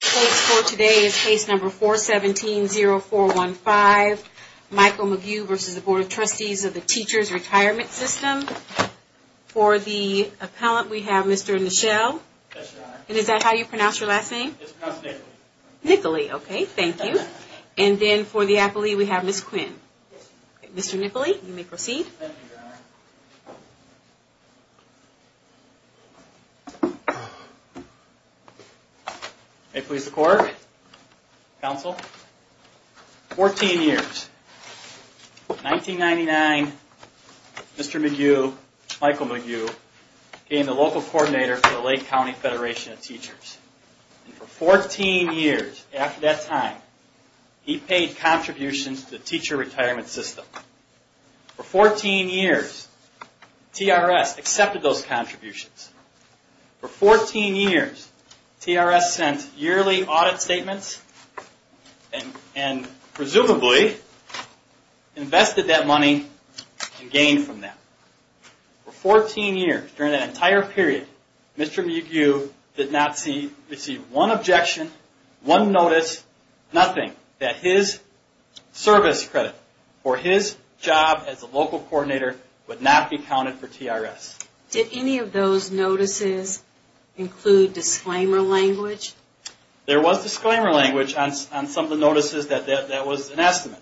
Case number 417-0415, Michael McGue v. Board of Trustees of the Teachers Retirement System. For the appellant, we have Mr. Nichelle. And is that how you pronounce your last name? It's pronounced Nic-uh-lee. Nic-uh-lee, okay, thank you. And then for the appellee, we have Ms. Quinn. Mr. Nic-uh-lee, you may proceed. Thank you, Your Honor. Please declare, counsel. 14 years. 1999, Mr. McGue, Michael McGue, became the local coordinator for the Lake County Federation of Teachers. And for 14 years after that time, he paid contributions to the teacher retirement system. For 14 years, TRS accepted those contributions. For 14 years, TRS sent yearly audit statements and presumably invested that money and gained from that. For 14 years, during that entire period, Mr. McGue did not receive one objection, one notice, nothing, that his service credit for his job as a local coordinator would not be counted for TRS. Did any of those notices include disclaimer language? There was disclaimer language on some of the notices that that was an estimate.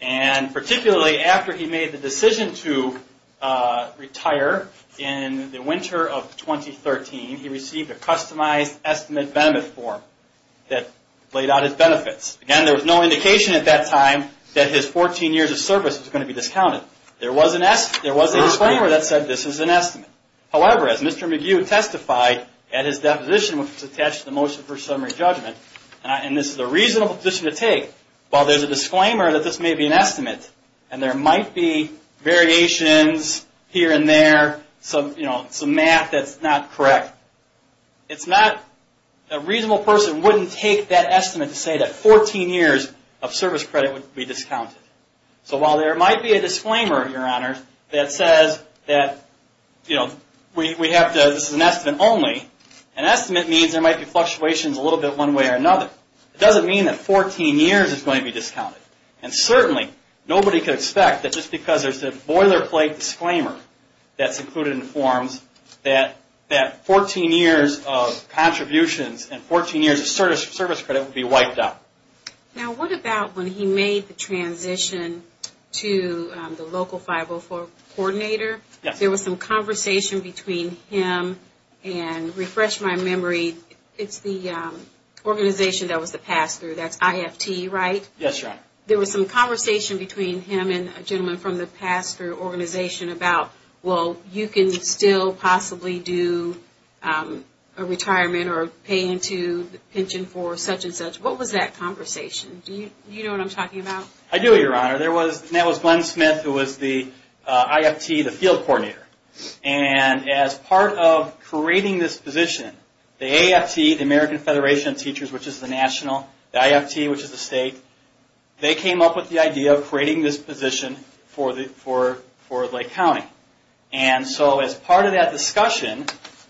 And particularly after he made the decision to retire in the winter of 2013, he received a customized estimate benefit form that laid out his benefits. Again, there was no indication at that time that his 14 years of service was going to be discounted. There was a disclaimer that said this was an estimate. However, as Mr. McGue testified at his deposition, which was attached to the motion for summary judgment, and this is a reasonable position to take, while there's a disclaimer that this may be an estimate, and there might be variations here and there, some math that's not correct, a reasonable person wouldn't take that estimate to say that 14 years of service credit would be discounted. So while there might be a disclaimer, Your Honor, that says that this is an estimate only, an estimate means there might be fluctuations a little bit one way or another. It doesn't mean that 14 years is going to be discounted. And certainly nobody could expect that just because there's a boilerplate disclaimer that's included in the forms, that 14 years of contributions and 14 years of service credit would be wiped out. Now what about when he made the transition to the local 504 coordinator? Yes. There was some conversation between him and, refresh my memory, it's the organization that was the pass-through. That's IFT, right? Yes, Your Honor. There was some conversation between him and a gentleman from the pass-through organization about, well, you can still possibly do a retirement or pay into the pension for such and such. What was that conversation? Do you know what I'm talking about? I do, Your Honor. And that was Glenn Smith, who was the IFT, the field coordinator. And as part of creating this position, the AFT, the American Federation of Teachers, which is the national, the IFT, which is the state, they came up with the idea of creating this position for Lake County. And so as part of that discussion,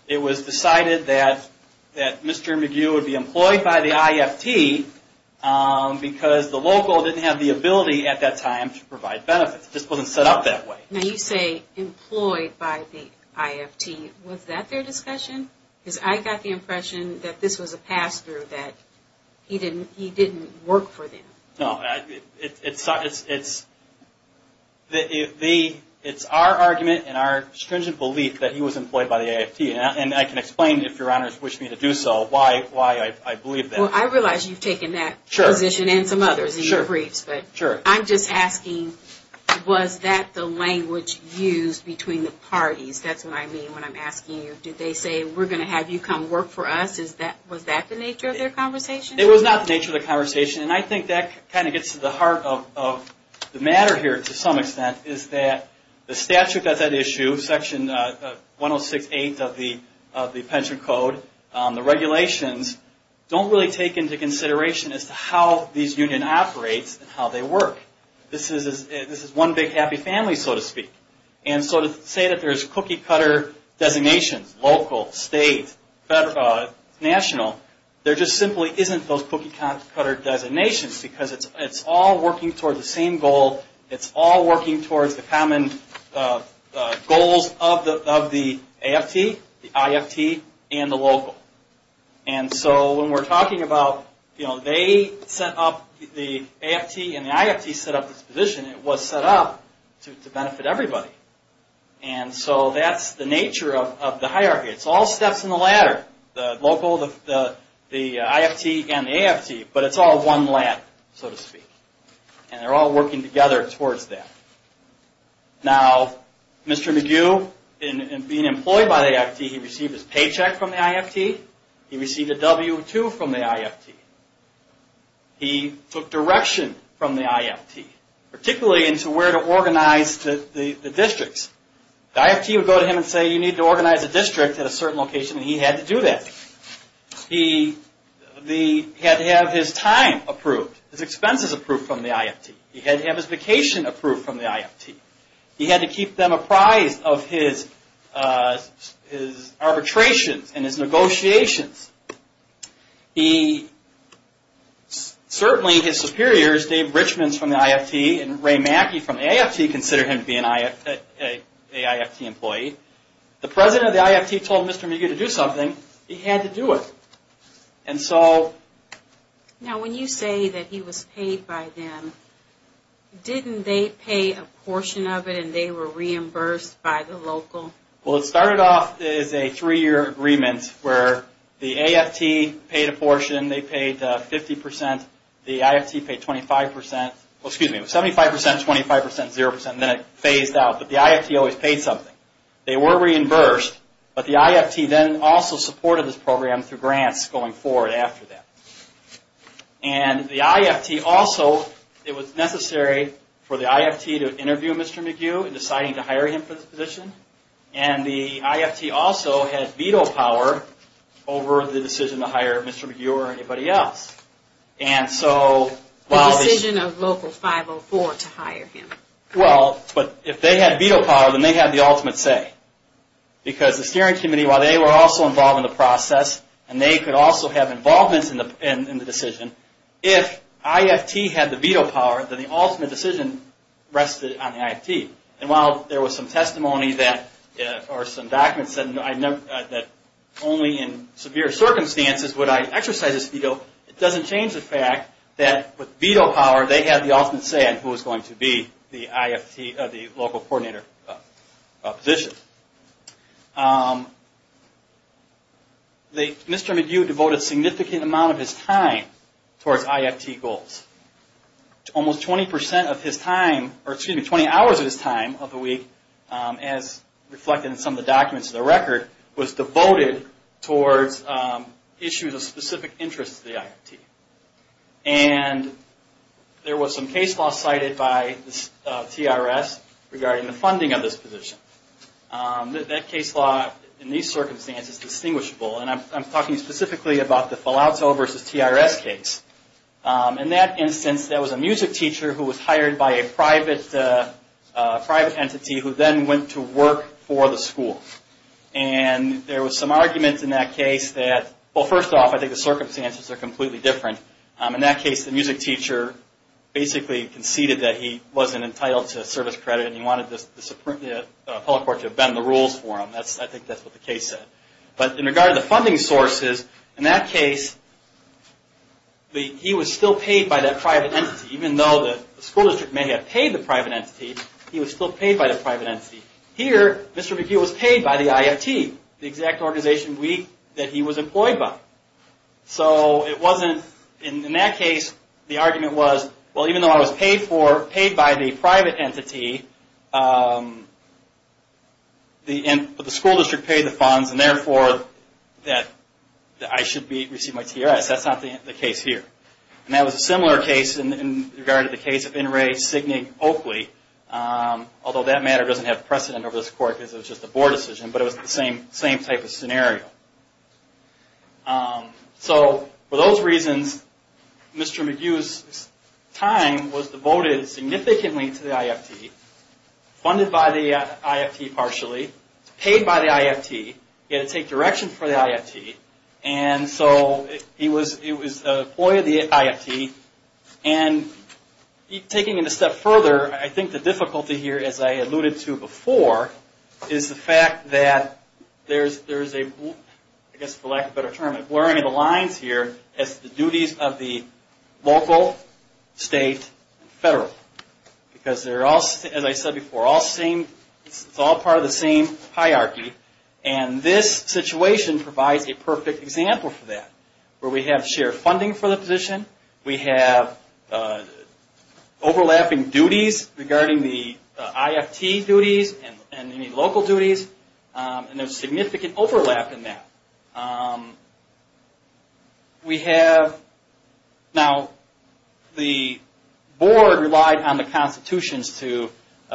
it was decided that Mr. McGue would be employed by the IFT because the local didn't have the ability at that time to provide benefits. It just wasn't set up that way. Now you say employed by the IFT. Was that their discussion? Because I got the impression that this was a pass-through, that he didn't work for them. No. It's our argument and our stringent belief that he was employed by the IFT. And I can explain, if Your Honors wish me to do so, why I believe that. Well, I realize you've taken that position and some others in your briefs. Sure. But I'm just asking, was that the language used between the parties? That's what I mean when I'm asking you. Did they say, we're going to have you come work for us? Was that the nature of their conversation? It was not the nature of the conversation. And I think that kind of gets to the heart of the matter here, to some extent, is that the statute that's at issue, Section 106.8 of the Pension Code, the regulations don't really take into consideration as to how these unions operate and how they work. This is one big happy family, so to speak. And so to say that there's cookie-cutter designations, local, state, national, there just simply isn't those cookie-cutter designations because it's all working towards the same goal. It's all working towards the common goals of the AFT, the IFT, and the local. And so when we're talking about they set up the AFT and the IFT set up this position, it was set up to benefit everybody. And so that's the nature of the hierarchy. It's all steps in the ladder. The local, the IFT, and the AFT, but it's all one ladder, so to speak. And they're all working together towards that. Now, Mr. McGue, in being employed by the IFT, he received his paycheck from the IFT. He received a W-2 from the IFT. He took direction from the IFT, particularly into where to organize the districts. The IFT would go to him and say, you need to organize a district at a certain location, and he had to do that. He had to have his time approved, his expenses approved from the IFT. He had to have his vacation approved from the IFT. He had to keep them apprised of his arbitrations and his negotiations. Certainly, his superiors, Dave Richmond's from the IFT and Ray Mackey from the AFT, considered him to be an IFT employee. The president of the IFT told Mr. McGue to do something. He had to do it. And so... Now, when you say that he was paid by them, didn't they pay a portion of it and they were reimbursed by the local? Well, it started off as a three-year agreement where the AFT paid a portion. They paid 50%. The IFT paid 25%. Well, excuse me, it was 75%, 25%, 0%, and then it phased out. But the IFT always paid something. They were reimbursed, but the IFT then also supported this program through grants going forward after that. And the IFT also, it was necessary for the IFT to interview Mr. McGue in deciding to hire him for this position. And the IFT also had veto power over the decision to hire Mr. McGue or anybody else. And so... The decision of Local 504 to hire him. Well, but if they had veto power, then they had the ultimate say. Because the Steering Committee, while they were also involved in the process, and they could also have involvement in the decision, if IFT had the veto power, then the ultimate decision rested on the IFT. And while there was some testimony or some documents that only in severe circumstances would I exercise this veto, it doesn't change the fact that with veto power, they had the ultimate say on who was going to be the local coordinator position. Mr. McGue devoted a significant amount of his time towards IFT goals. Almost 20% of his time, or excuse me, 20 hours of his time of the week, as reflected in some of the documents in the record, was devoted towards issues of specific interest to the IFT. And there was some case law cited by the TRS regarding the funding of this position. That case law, in these circumstances, is distinguishable. And I'm talking specifically about the Falauto v. TRS case. In that instance, there was a music teacher who was hired by a private entity who then went to work for the school. And there was some arguments in that case that, well, first off, I think the circumstances are completely different. In that case, the music teacher basically conceded that he wasn't entitled to service credit and he wanted the public court to bend the rules for him. I think that's what the case said. But in regard to the funding sources, in that case, he was still paid by that private entity. Even though the school district may have paid the private entity, he was still paid by the private entity. Here, Mr. McHugh was paid by the IFT, the exact organization that he was employed by. So in that case, the argument was, well, even though I was paid by the private entity, the school district paid the funds, and therefore, I should receive my TRS. That's not the case here. And that was a similar case in regard to the case of N. Ray Signig-Oakley, although that matter doesn't have precedent over this court because it was just a board decision. But it was the same type of scenario. So for those reasons, Mr. McHugh's time was devoted significantly to the IFT, funded by the IFT partially, paid by the IFT. He had to take direction for the IFT. And so he was an employee of the IFT. And taking it a step further, I think the difficulty here, as I alluded to before, is the fact that there's a, I guess for lack of a better term, a blurring of the lines here as to the duties of the local, state, and federal. Because they're all, as I said before, it's all part of the same hierarchy. And this situation provides a perfect example for that, where we have shared funding for the position. We have overlapping duties regarding the IFT duties and any local duties. And there's significant overlap in that. We have, now the board relied on the constitutions to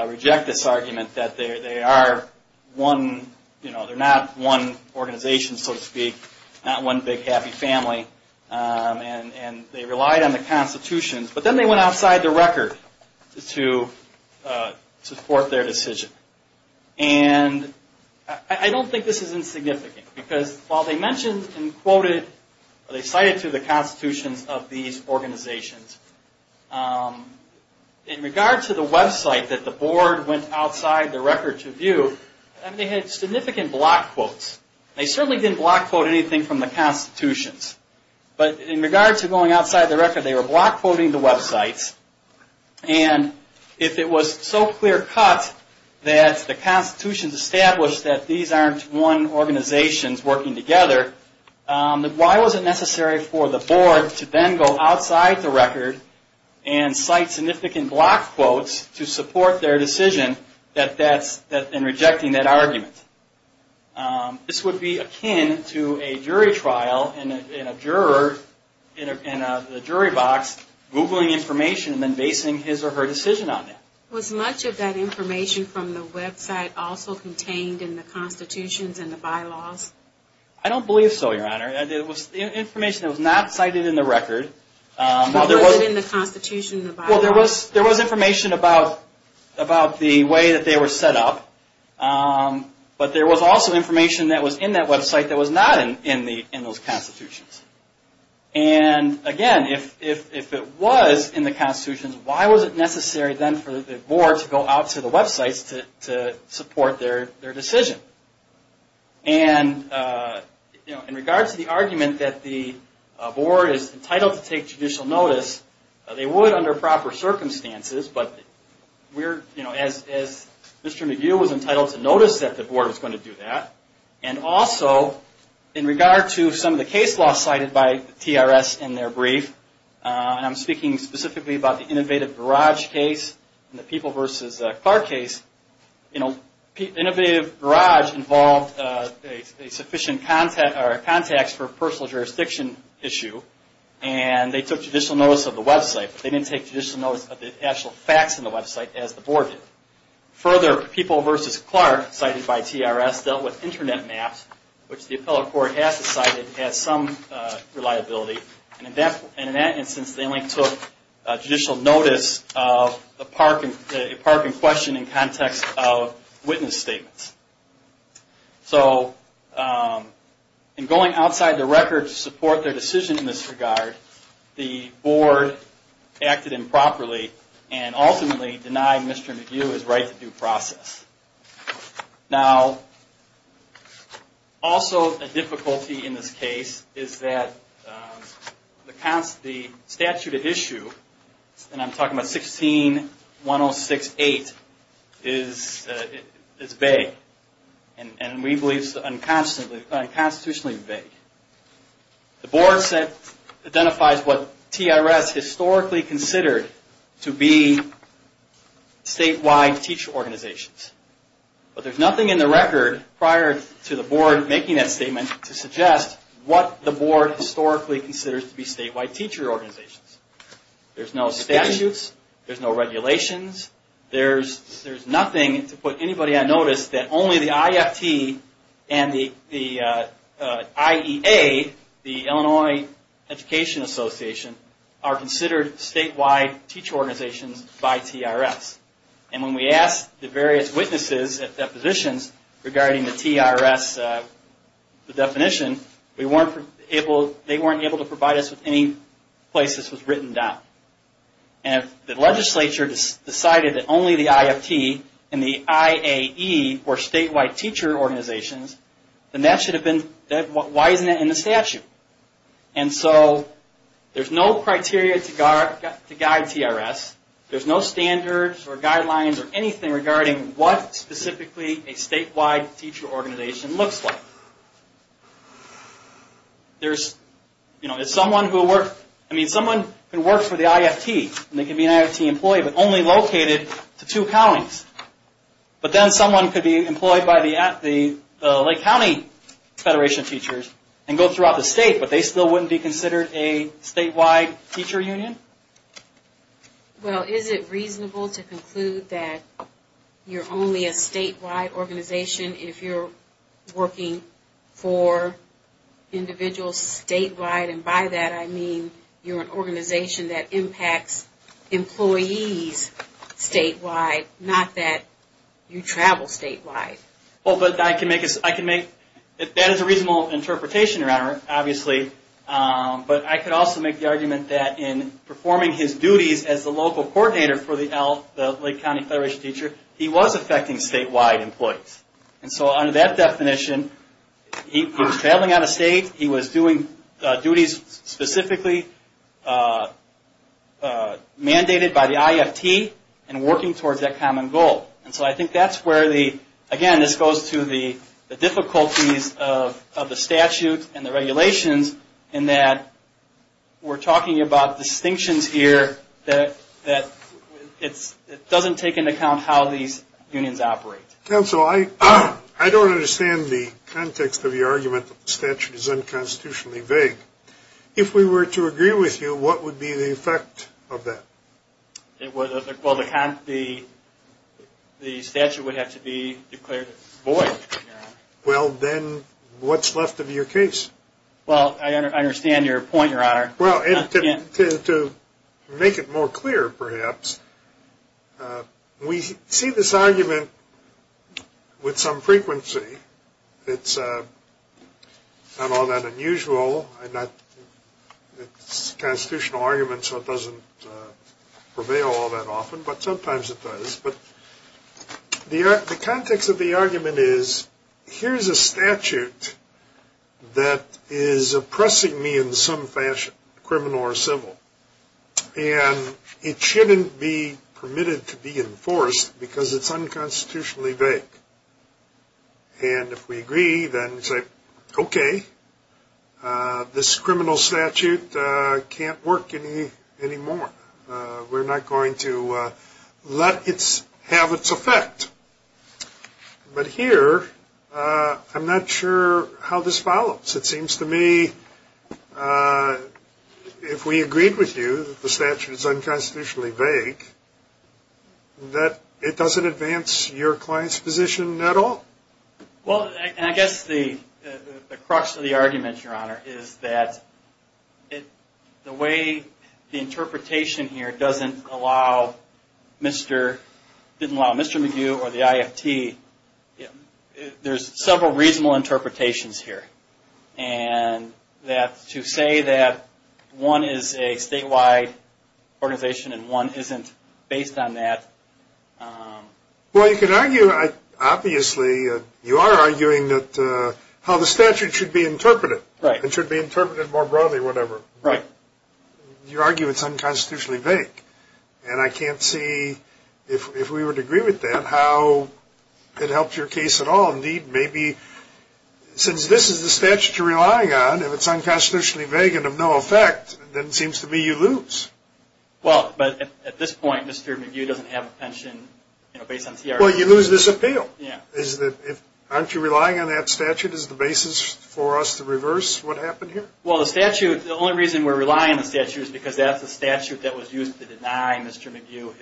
reject this argument that they are one, they're not one organization, so to speak. Not one big happy family. And they relied on the constitutions. But then they went outside the record to support their decision. And I don't think this is insignificant. Because while they mentioned and quoted, or they cited to the constitutions of these organizations, in regard to the website that the board went outside the record to view, they had significant block quotes. They certainly didn't block quote anything from the constitutions. But in regard to going outside the record, they were block quoting the websites. And if it was so clear cut that the constitutions established that these aren't one organizations working together, why was it necessary for the board to then go outside the record and cite significant block quotes to support their decision in rejecting that argument? This would be akin to a jury trial and a juror in a jury box googling information and then basing his or her decision on that. Was much of that information from the website also contained in the constitutions and the bylaws? I don't believe so, Your Honor. It was information that was not cited in the record. Was it in the constitution and the bylaws? Well, there was information about the way that they were set up. But there was also information that was in that website that was not in those constitutions. And again, if it was in the constitutions, why was it necessary then for the board to go out to the websites to support their decision? And in regard to the argument that the board is entitled to take judicial notice, they would under proper circumstances. As Mr. McHugh was entitled to notice that the board was going to do that, and also in regard to some of the case law cited by TRS in their brief, and I'm speaking specifically about the Innovative Garage case and the People v. Clark case, Innovative Garage involved sufficient contacts for a personal jurisdiction issue, and they took judicial notice of the website. They didn't take judicial notice of the actual facts in the website, as the board did. Further, People v. Clark, cited by TRS, dealt with internet maps, which the appellate court has decided has some reliability. And in that instance, they only took judicial notice of a parking question in context of witness statements. So in going outside the record to support their decision in this regard, the board acted improperly and ultimately denied Mr. McHugh his right to due process. Now, also a difficulty in this case is that the statute at issue, and I'm talking about 16-106-8, is vague. And we believe it's unconstitutionally vague. The board identifies what TRS historically considered to be statewide teacher organizations. But there's nothing in the record prior to the board making that statement to suggest what the board historically considers to be statewide teacher organizations. There's no statutes, there's no regulations, there's nothing to put anybody on notice that only the IFT and the IEA, the Illinois Education Association, are considered statewide teacher organizations by TRS. And when we asked the various witnesses at depositions regarding the TRS definition, they weren't able to provide us with any place this was written down. And if the legislature decided that only the IFT and the IAE were statewide teacher organizations, then why isn't that in the statute? And so there's no criteria to guide TRS. There's no standards or guidelines or anything regarding what specifically a statewide teacher organization looks like. Someone can work for the IFT, and they can be an IFT employee, but only located to two counties. But then someone could be employed by the Lake County Federation of Teachers and go throughout the state, but they still wouldn't be considered a statewide teacher union? Well, is it reasonable to conclude that you're only a statewide organization if you're working for individuals statewide? And by that I mean you're an organization that impacts employees statewide, not that you travel statewide. That is a reasonable interpretation, obviously, but I could also make the argument that in performing his duties as the local coordinator for the Lake County Federation of Teachers, he was affecting statewide employees. And so under that definition, he was traveling out of state, he was doing duties specifically mandated by the IFT and working towards that common goal. And so I think that's where the, again, this goes to the difficulties of the statute and the regulations in that we're talking about distinctions here that it doesn't take into account how these unions operate. Counsel, I don't understand the context of your argument that the statute is unconstitutionally vague. If we were to agree with you, what would be the effect of that? Well, the statute would have to be declared void, Your Honor. Well, then what's left of your case? Well, I understand your point, Your Honor. Well, to make it more clear, perhaps, we see this argument with some frequency. It's not all that unusual. It's a constitutional argument, so it doesn't prevail all that often, but sometimes it does. But the context of the argument is, here's a statute that is oppressing me in some fashion, criminal or civil, and it shouldn't be permitted to be enforced because it's unconstitutionally vague. And if we agree, then say, okay, this criminal statute can't work anymore. We're not going to let it have its effect. But here, I'm not sure how this follows. It seems to me, if we agreed with you that the statute is unconstitutionally vague, that it doesn't advance your client's position at all? Well, and I guess the crux of the argument, Your Honor, is that the way the interpretation here doesn't allow Mr. McHugh or the IFT, there's several reasonable interpretations here. And to say that one is a statewide organization and one isn't based on that. Well, you can argue, obviously, you are arguing how the statute should be interpreted. Right. It should be interpreted more broadly, whatever. Right. You argue it's unconstitutionally vague. And I can't see, if we were to agree with that, how it helps your case at all. Indeed, maybe, since this is the statute you're relying on, if it's unconstitutionally vague and of no effect, then it seems to me you lose. Well, but at this point, Mr. McHugh doesn't have a pension based on TRD. Well, you lose this appeal. Yeah. Aren't you relying on that statute as the basis for us to reverse what happened here? Well, the statute, the only reason we're relying on the statute is because that's the statute that was used to deny Mr. McHugh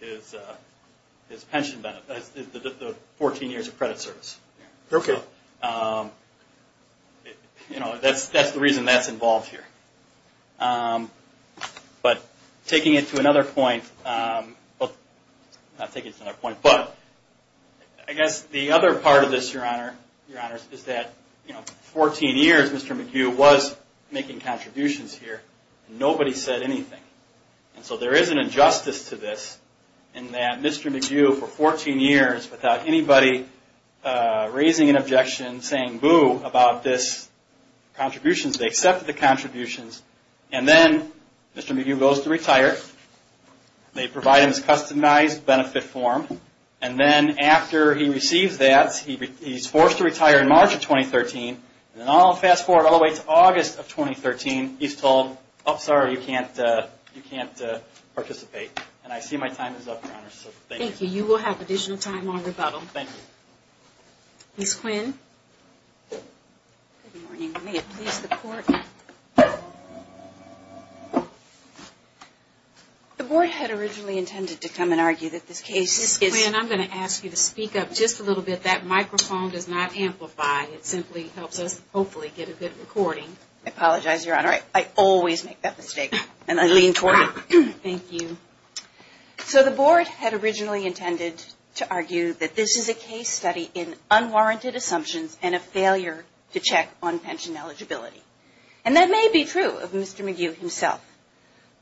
his pension benefit, the 14 years of credit service. Okay. You know, that's the reason that's involved here. But taking it to another point, well, not taking it to another point, but I guess the other part of this, Your Honor, is that for 14 years Mr. McHugh was making contributions here. Nobody said anything. And so there is an injustice to this in that Mr. McHugh, for 14 years, without anybody raising an objection, saying boo about this contributions, they accepted the contributions, and then Mr. McHugh goes to retire. They provide him his customized benefit form. And then after he receives that, he's forced to retire in March of 2013. And then I'll fast forward all the way to August of 2013. He's told, oh, sorry, you can't participate. And I see my time is up, Your Honor. So thank you. Thank you. You will have additional time on rebuttal. Ms. Quinn. Good morning. May it please the Court. The Board had originally intended to come and argue that this case is... Ms. Quinn, I'm going to ask you to speak up just a little bit. That microphone does not amplify. It simply helps us hopefully get a good recording. I apologize, Your Honor. I always make that mistake, and I lean toward it. Thank you. So the Board had originally intended to argue that this is a case study in unwarranted assumptions and a failure to check on pension eligibility. And that may be true of Mr. McGue himself.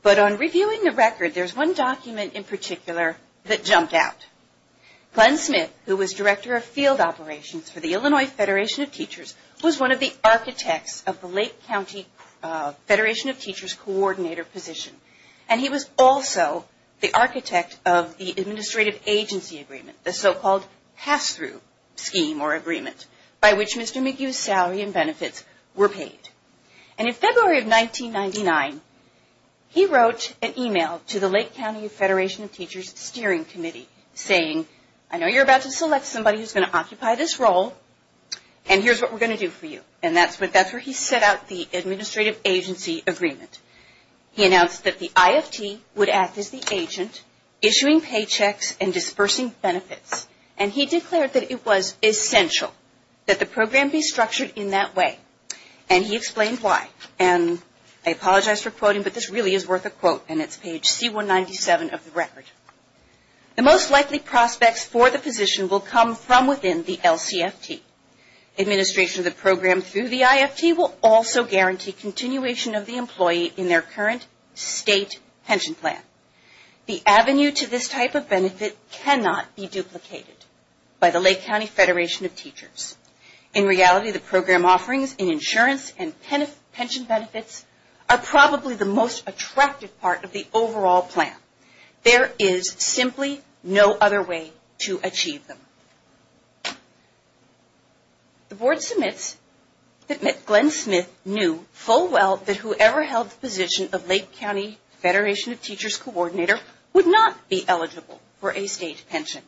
But on reviewing the record, there's one document in particular that jumped out. Glenn Smith, who was Director of Field Operations for the Illinois Federation of Teachers, was one of the architects of the Lake County Federation of Teachers Coordinator position. And he was also the architect of the Administrative Agency Agreement, the so-called pass-through scheme or agreement, by which Mr. McGue's salary and benefits were paid. And in February of 1999, he wrote an email to the Lake County Federation of Teachers Steering Committee saying, I know you're about to select somebody who's going to occupy this role, and here's what we're going to do for you. And that's where he set out the Administrative Agency Agreement. He announced that the IFT would act as the agent, issuing paychecks and dispersing benefits. And he declared that it was essential that the program be structured in that way. And he explained why. And I apologize for quoting, but this really is worth a quote, and it's page C197 of the record. The most likely prospects for the position will come from within the LCFT. Administration of the program through the IFT will also guarantee continuation of the employee in their current state pension plan. The avenue to this type of benefit cannot be duplicated by the Lake County Federation of Teachers. In reality, the program offerings in insurance and pension benefits are probably the most attractive part of the overall plan. There is simply no other way to achieve them. The board submits that Glenn Smith knew full well that whoever held the position of Lake County Federation of Teachers coordinator would not be eligible for a state pension.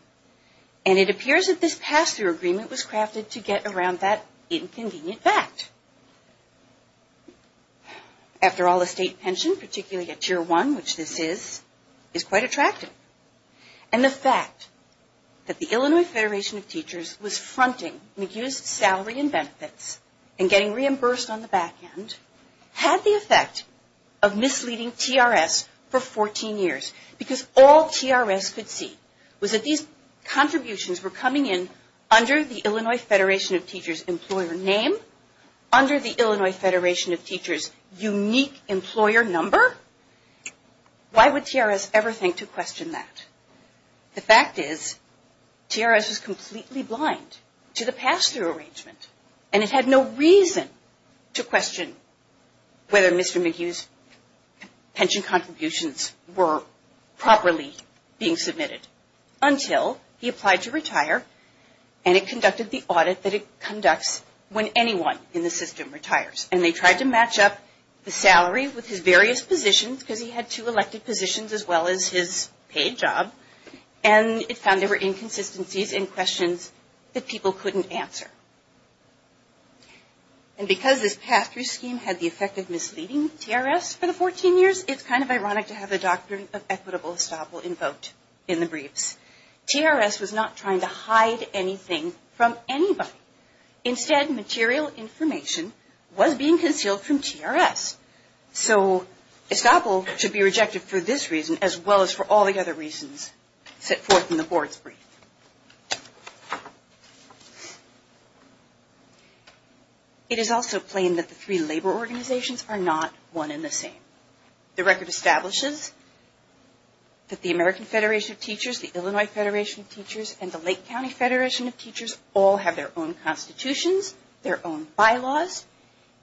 And it appears that this pass-through agreement was crafted to get around that inconvenient fact. After all, a state pension, particularly a Tier 1, which this is, is quite attractive. And the fact that the Illinois Federation of Teachers was fronting McHugh's salary and benefits and getting reimbursed on the back end had the effect of misleading TRS for 14 years. Because all TRS could see was that these contributions were coming in under the Illinois Federation of Teachers employer name, under the Illinois Federation of Teachers unique employer number. Why would TRS ever think to question that? The fact is, TRS was completely blind to the pass-through arrangement. And it had no reason to question whether Mr. McHugh's pension contributions were properly being submitted until he applied to retire and it conducted the audit that it conducts when anyone in the system retires. And they tried to match up the salary with his various positions because he had two elected positions as well as his paid job. And it found there were inconsistencies in questions that people couldn't answer. And because this pass-through scheme had the effect of misleading TRS for the 14 years, it's kind of ironic to have the doctrine of equitable estoppel invoked in the briefs. TRS was not trying to hide anything from anybody. Instead, material information was being concealed from TRS. So, estoppel should be rejected for this reason as well as for all the other reasons set forth in the board's brief. It is also plain that the three labor organizations are not one and the same. The record establishes that the American Federation of Teachers, the Illinois Federation of Teachers, and the Lake County Federation of Teachers all have their own constitutions, their own bylaws.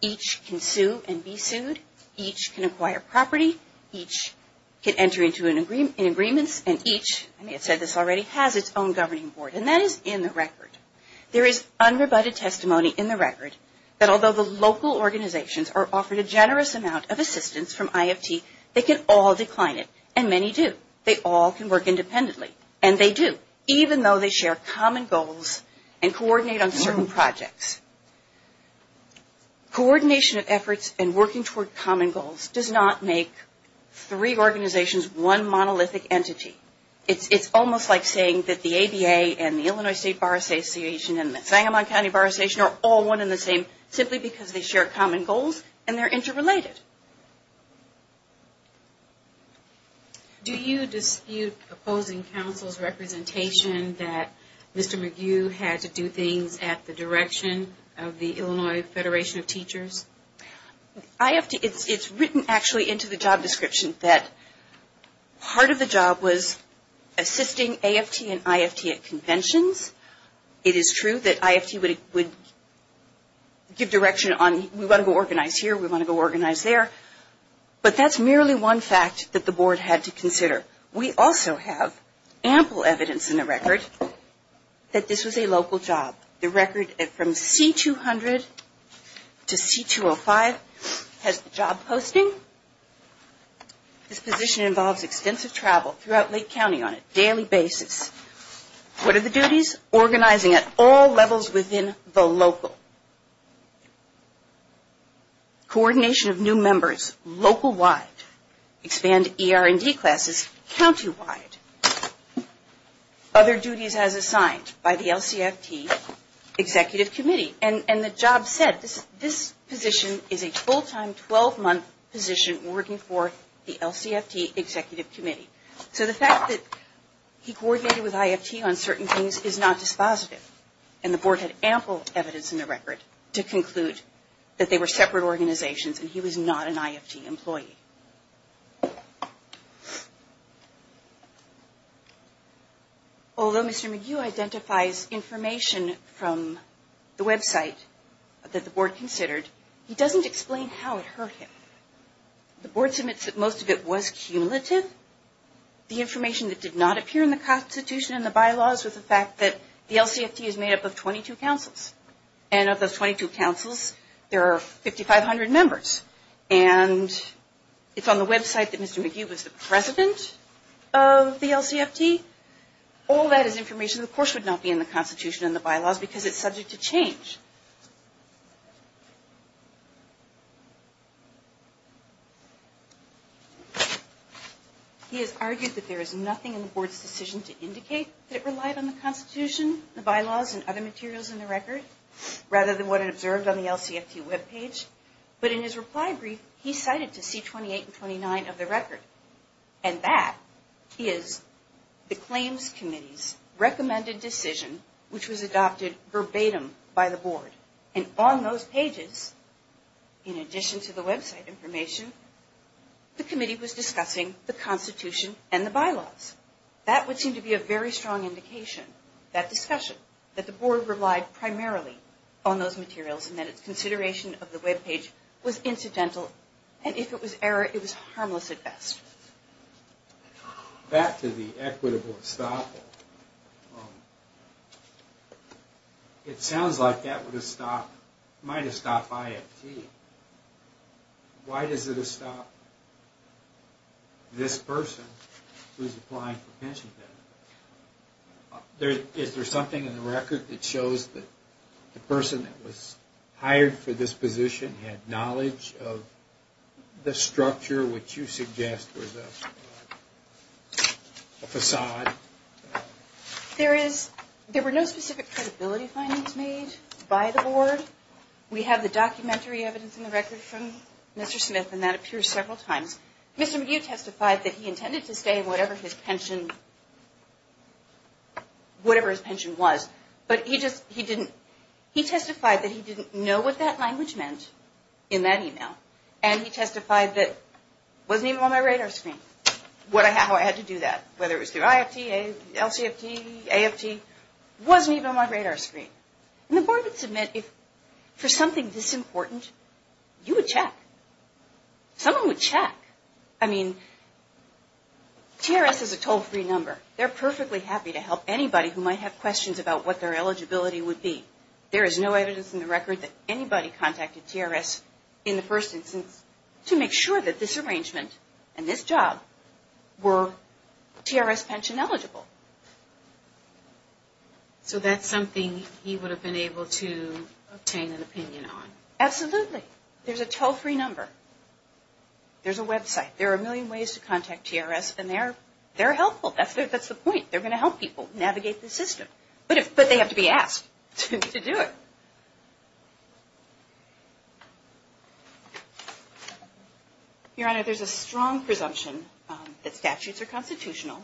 Each can sue and be sued. Each can acquire property. Each can enter into agreements. And each, I may have said this already, has its own governing board. And that is in the record. There is unrebutted testimony in the record that although the local organizations are offered a generous amount of assistance from IFT, they can all decline it. And many do. They all can work independently. And they do, even though they share common goals and coordinate on certain projects. Coordination of efforts and working toward common goals does not make three organizations one monolithic entity. It is almost like saying that the ABA and the Illinois State Bar Association and the Sangamon County Bar Association are all one and the same simply because they share common goals and they are interrelated. Do you dispute opposing counsel's representation that Mr. McHugh had to do things at the direction of the Illinois Federation of Teachers? It's written actually into the job description that part of the job was assisting AFT and IFT at conventions. It is true that IFT would give direction on we want to go organize here, we want to go organize there. But that's merely one fact that the board had to consider. We also have ample evidence in the record that this was a local job. The record from C200 to C205 has the job posting. This position involves extensive travel throughout Lake County on a daily basis. What are the duties? Organizing at all levels within the local. Coordination of new members local-wide. Expand ER&D classes county-wide. Other duties as assigned by the LCFT Executive Committee. And the job said this position is a full-time 12-month position working for the LCFT Executive Committee. So the fact that he coordinated with IFT on certain things is not dispositive. And the board had ample evidence in the record to conclude that they were separate organizations and he was not an IFT employee. Although Mr. McHugh identifies information from the website that the board considered, he doesn't explain how it hurt him. The board submits that most of it was cumulative. The information that did not appear in the Constitution and the bylaws was the fact that the LCFT is made up of 22 councils. And of those 22 councils, there are 5,500 members. And it's on the website that Mr. McHugh was the president of the LCFT. All that is information that of course would not be in the Constitution and the bylaws because it's subject to change. He has argued that there is nothing in the board's decision to indicate that it relied on the Constitution, the bylaws, and other materials in the record, rather than what it observed on the LCFT webpage. But in his reply brief, he cited to C-28 and 29 of the record. And that is the Claims Committee's recommended decision, which was adopted verbatim by the board. And on those pages, in addition to the website information, the committee was discussing the Constitution and the bylaws. That would seem to be a very strong indication, that discussion, that the board relied primarily on those materials and that its consideration of the webpage was incidental. And if it was error, it was harmless at best. Back to the equitable estoppel. It sounds like that would have stopped, might have stopped IFT. Why does it stop this person who is applying for a pension benefit? Is there something in the record that shows that the person that was hired for this position had knowledge of the structure, which you suggest was a facade? There were no specific credibility findings made by the board. We have the documentary evidence in the record from Mr. Smith, and that appears several times. Mr. McGeough testified that he intended to stay in whatever his pension was, but he testified that he didn't know what that language meant in that email. And he testified that it wasn't even on my radar screen, how I had to do that, whether it was through IFT, LCFT, AFT, it wasn't even on my radar screen. And the board would submit, for something this important, you would check. Someone would check. I mean, TRS is a toll-free number. They're perfectly happy to help anybody who might have questions about what their eligibility would be. There is no evidence in the record that anybody contacted TRS in the first instance to make sure that this arrangement and this job were TRS pension eligible. So that's something he would have been able to obtain an opinion on? Absolutely. There's a toll-free number. There's a website. There are a million ways to contact TRS, and they're helpful. That's the point. They're going to help people navigate the system. But they have to be asked to do it. Your Honor, there's a strong presumption that statutes are constitutional.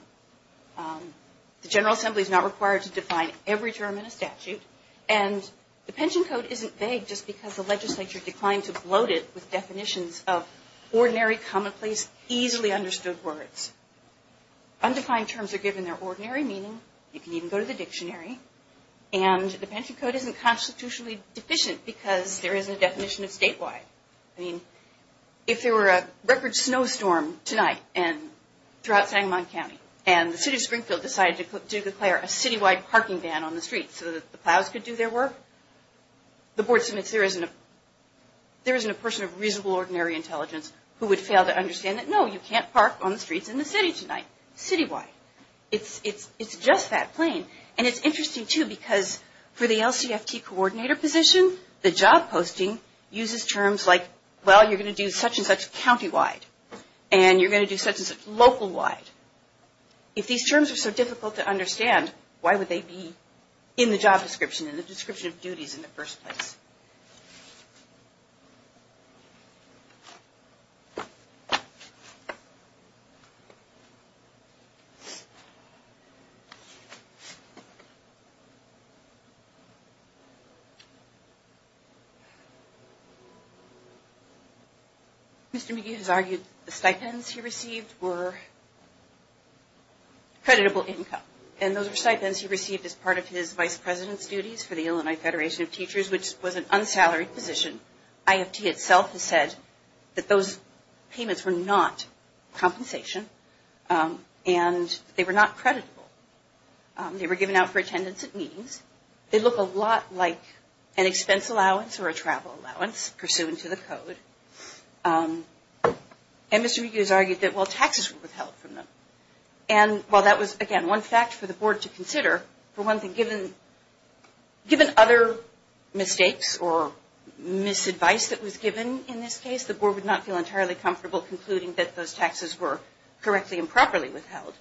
The General Assembly is not required to define every term in a statute. And the pension code isn't vague just because the legislature declined to bloat it with definitions of ordinary, commonplace, easily understood words. Undefined terms are given their ordinary meaning. You can even go to the dictionary. And the pension code isn't constitutionally deficient because there isn't a definition of statewide. I mean, if there were a record snowstorm tonight throughout Sangamon County, and the city of Springfield decided to declare a citywide parking ban on the streets so that the plows could do their work, the board submits there isn't a person of reasonable, ordinary intelligence who would fail to understand that, no, you can't park on the streets in the city tonight, citywide. It's just that plain. And it's interesting, too, because for the LCFT coordinator position, the job posting uses terms like, well, you're going to do such and such countywide, and you're going to do such and such localwide. If these terms are so difficult to understand, why would they be in the job description, in the description of duties in the first place? Mr. McGee has argued the stipends he received were creditable income, and those were stipends he received as part of his vice president's duties for the Illinois Federation of Teachers, which was an unsalaried position. IFT itself has said that those payments were not compensation, and they were not creditable. They were given out for attendance at meetings. They look a lot like an expense allowance or a travel allowance pursuant to the code. And Mr. McGee has argued that, well, taxes were withheld from them. And while that was, again, one fact for the board to consider, for one thing, given other mistakes or misadvice that was given in this case, the board would not feel entirely comfortable concluding that those taxes were correctly and properly withheld.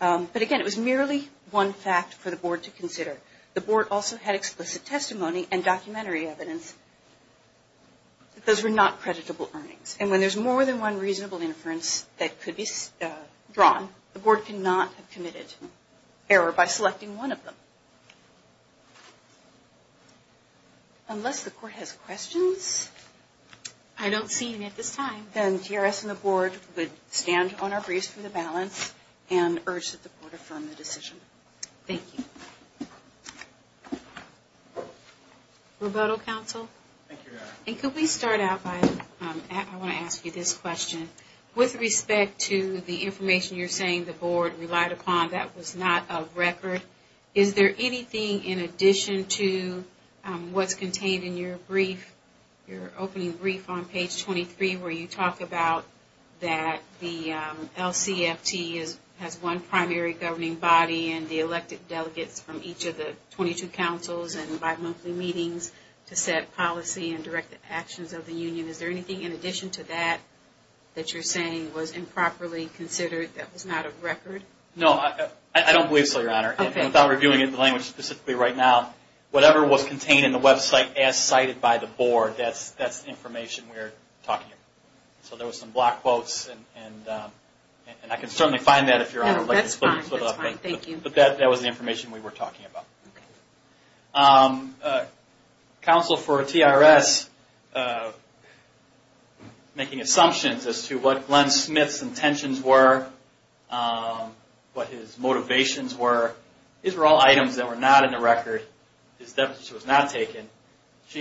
But again, it was merely one fact for the board to consider. The board also had explicit testimony and documentary evidence that those were not creditable earnings. And when there's more than one reasonable inference that could be drawn, the board cannot have committed error by selecting one of them. Unless the court has questions? I don't see any at this time. Then GRS and the board would stand on our briefs for the balance and urge that the board affirm the decision. Thank you. Roberto Counsel? And could we start out by, I want to ask you this question. With respect to the information you're saying the board relied upon that was not of record, is there anything in addition to what's contained in your brief, your opening brief on page 23 where you talk about that the LCFT has one primary governing body and the elected delegates from each of the 22 councils and bi-monthly meetings to set policy and direct the actions of the union, is there anything in addition to that that you're saying was improperly considered that was not of record? No, I don't believe so, Your Honor. Without reviewing it in the language specifically right now, whatever was contained in the website as cited by the board, that's the information we're talking about. So there were some block quotes, and I can certainly find that if Your Honor would like to split it up. But that was the information we were talking about. Counsel for TRS making assumptions as to what Glenn Smith's intentions were, what his motivations were. These were all items that were not in the record. She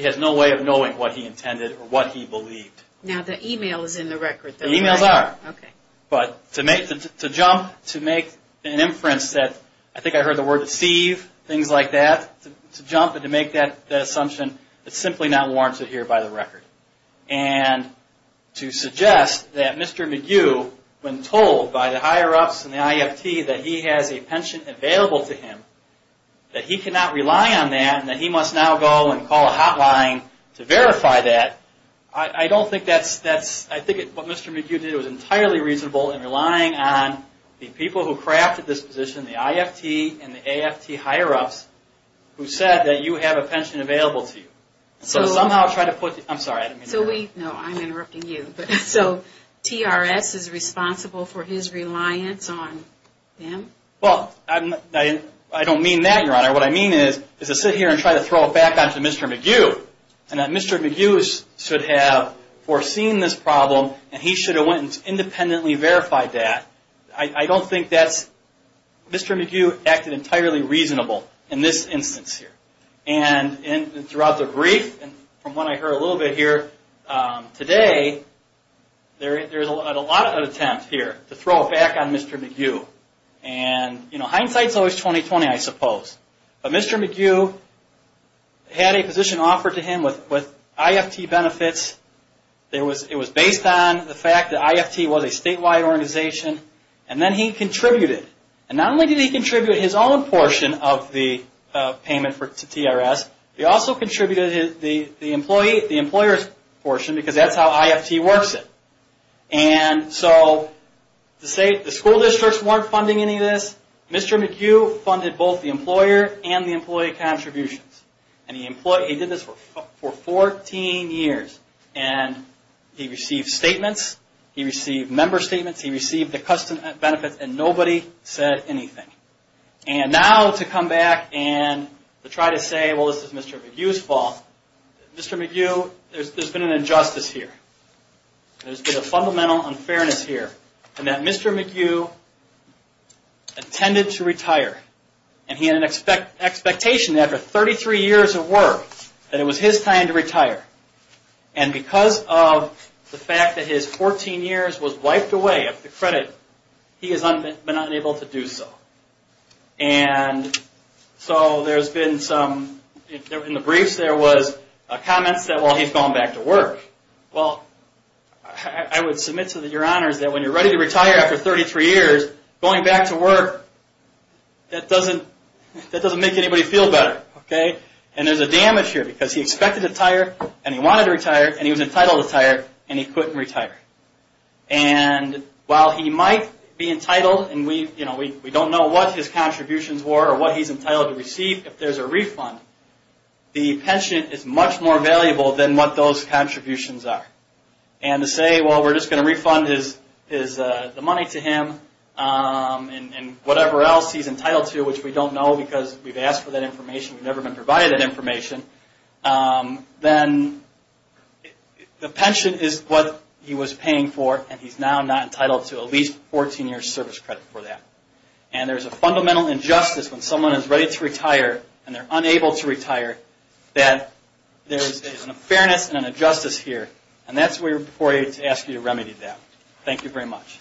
has no way of knowing what he intended or what he believed. Now the e-mail is in the record. The e-mails are, but to jump, to make an inference that I think I heard the word deceive, things like that, to jump and to make that assumption is simply not warranted here by the record. And to suggest that Mr. McGue, when told by the higher-ups and the IFT that he has a pension available to him, that he cannot rely on that and that he must now go and call a hotline to verify that, I think what Mr. McGue did was entirely reasonable in relying on the people who crafted this position, the IFT and the AFT higher-ups, who said that you have a pension available to you. So somehow try to put the, I'm sorry, I didn't mean that. No, I'm interrupting you. So TRS is responsible for his reliance on them? Well, I don't mean that, Your Honor. What I mean is to sit here and try to throw it back onto Mr. McGue, and that Mr. McGue should have foreseen this problem and he should have went and independently verified that. I don't think that's, Mr. McGue acted entirely reasonable in this instance here. And throughout the brief, from what I heard a little bit here today, there's a lot of attempt here to throw it back on Mr. McGue. And hindsight's always 20-20, I suppose. But Mr. McGue had a position offered to him with IFT benefits. It was based on the fact that IFT was a statewide organization. And then he contributed. And not only did he contribute his own portion of the payment to TRS, he also contributed the employer's portion, because that's how IFT works it. And so the school districts weren't funding any of this. Mr. McGue funded both the employer and the employee contributions. And he did this for 14 years. And he received statements, he received member statements, he received the custom benefits, and nobody said anything. And now to come back and try to say, well, this is Mr. McGue's fault. Mr. McGue, there's been an injustice here. There's been a fundamental unfairness here. And that Mr. McGue intended to retire. And he had an expectation after 33 years of work that it was his time to retire. And because of the fact that his 14 years was wiped away of the credit, he has been unable to do so. And so there's been some, in the briefs there was comments that, well, he's going back to work. Well, I would submit to your honors that when you're ready to retire after 33 years, going back to work, that doesn't make anybody feel better. And there's a damage here, because he expected to retire, and he wanted to retire, and he was entitled to retire, and he couldn't retire. And while he might be entitled, and we don't know what his contributions were, or what he's entitled to receive if there's a refund, the pension is much more valuable than what those contributions are. And to say, well, we're just going to refund the money to him, and whatever else he's entitled to, which we don't know because we've asked for that information, we've never been provided that information, then the pension is what he was paying for, and he's now not entitled to at least 14 years service credit for that. And there's a fundamental injustice when someone is ready to retire, and they're unable to retire, that there's an unfairness and an injustice here. And that's why we ask you to remedy that. Thank you very much.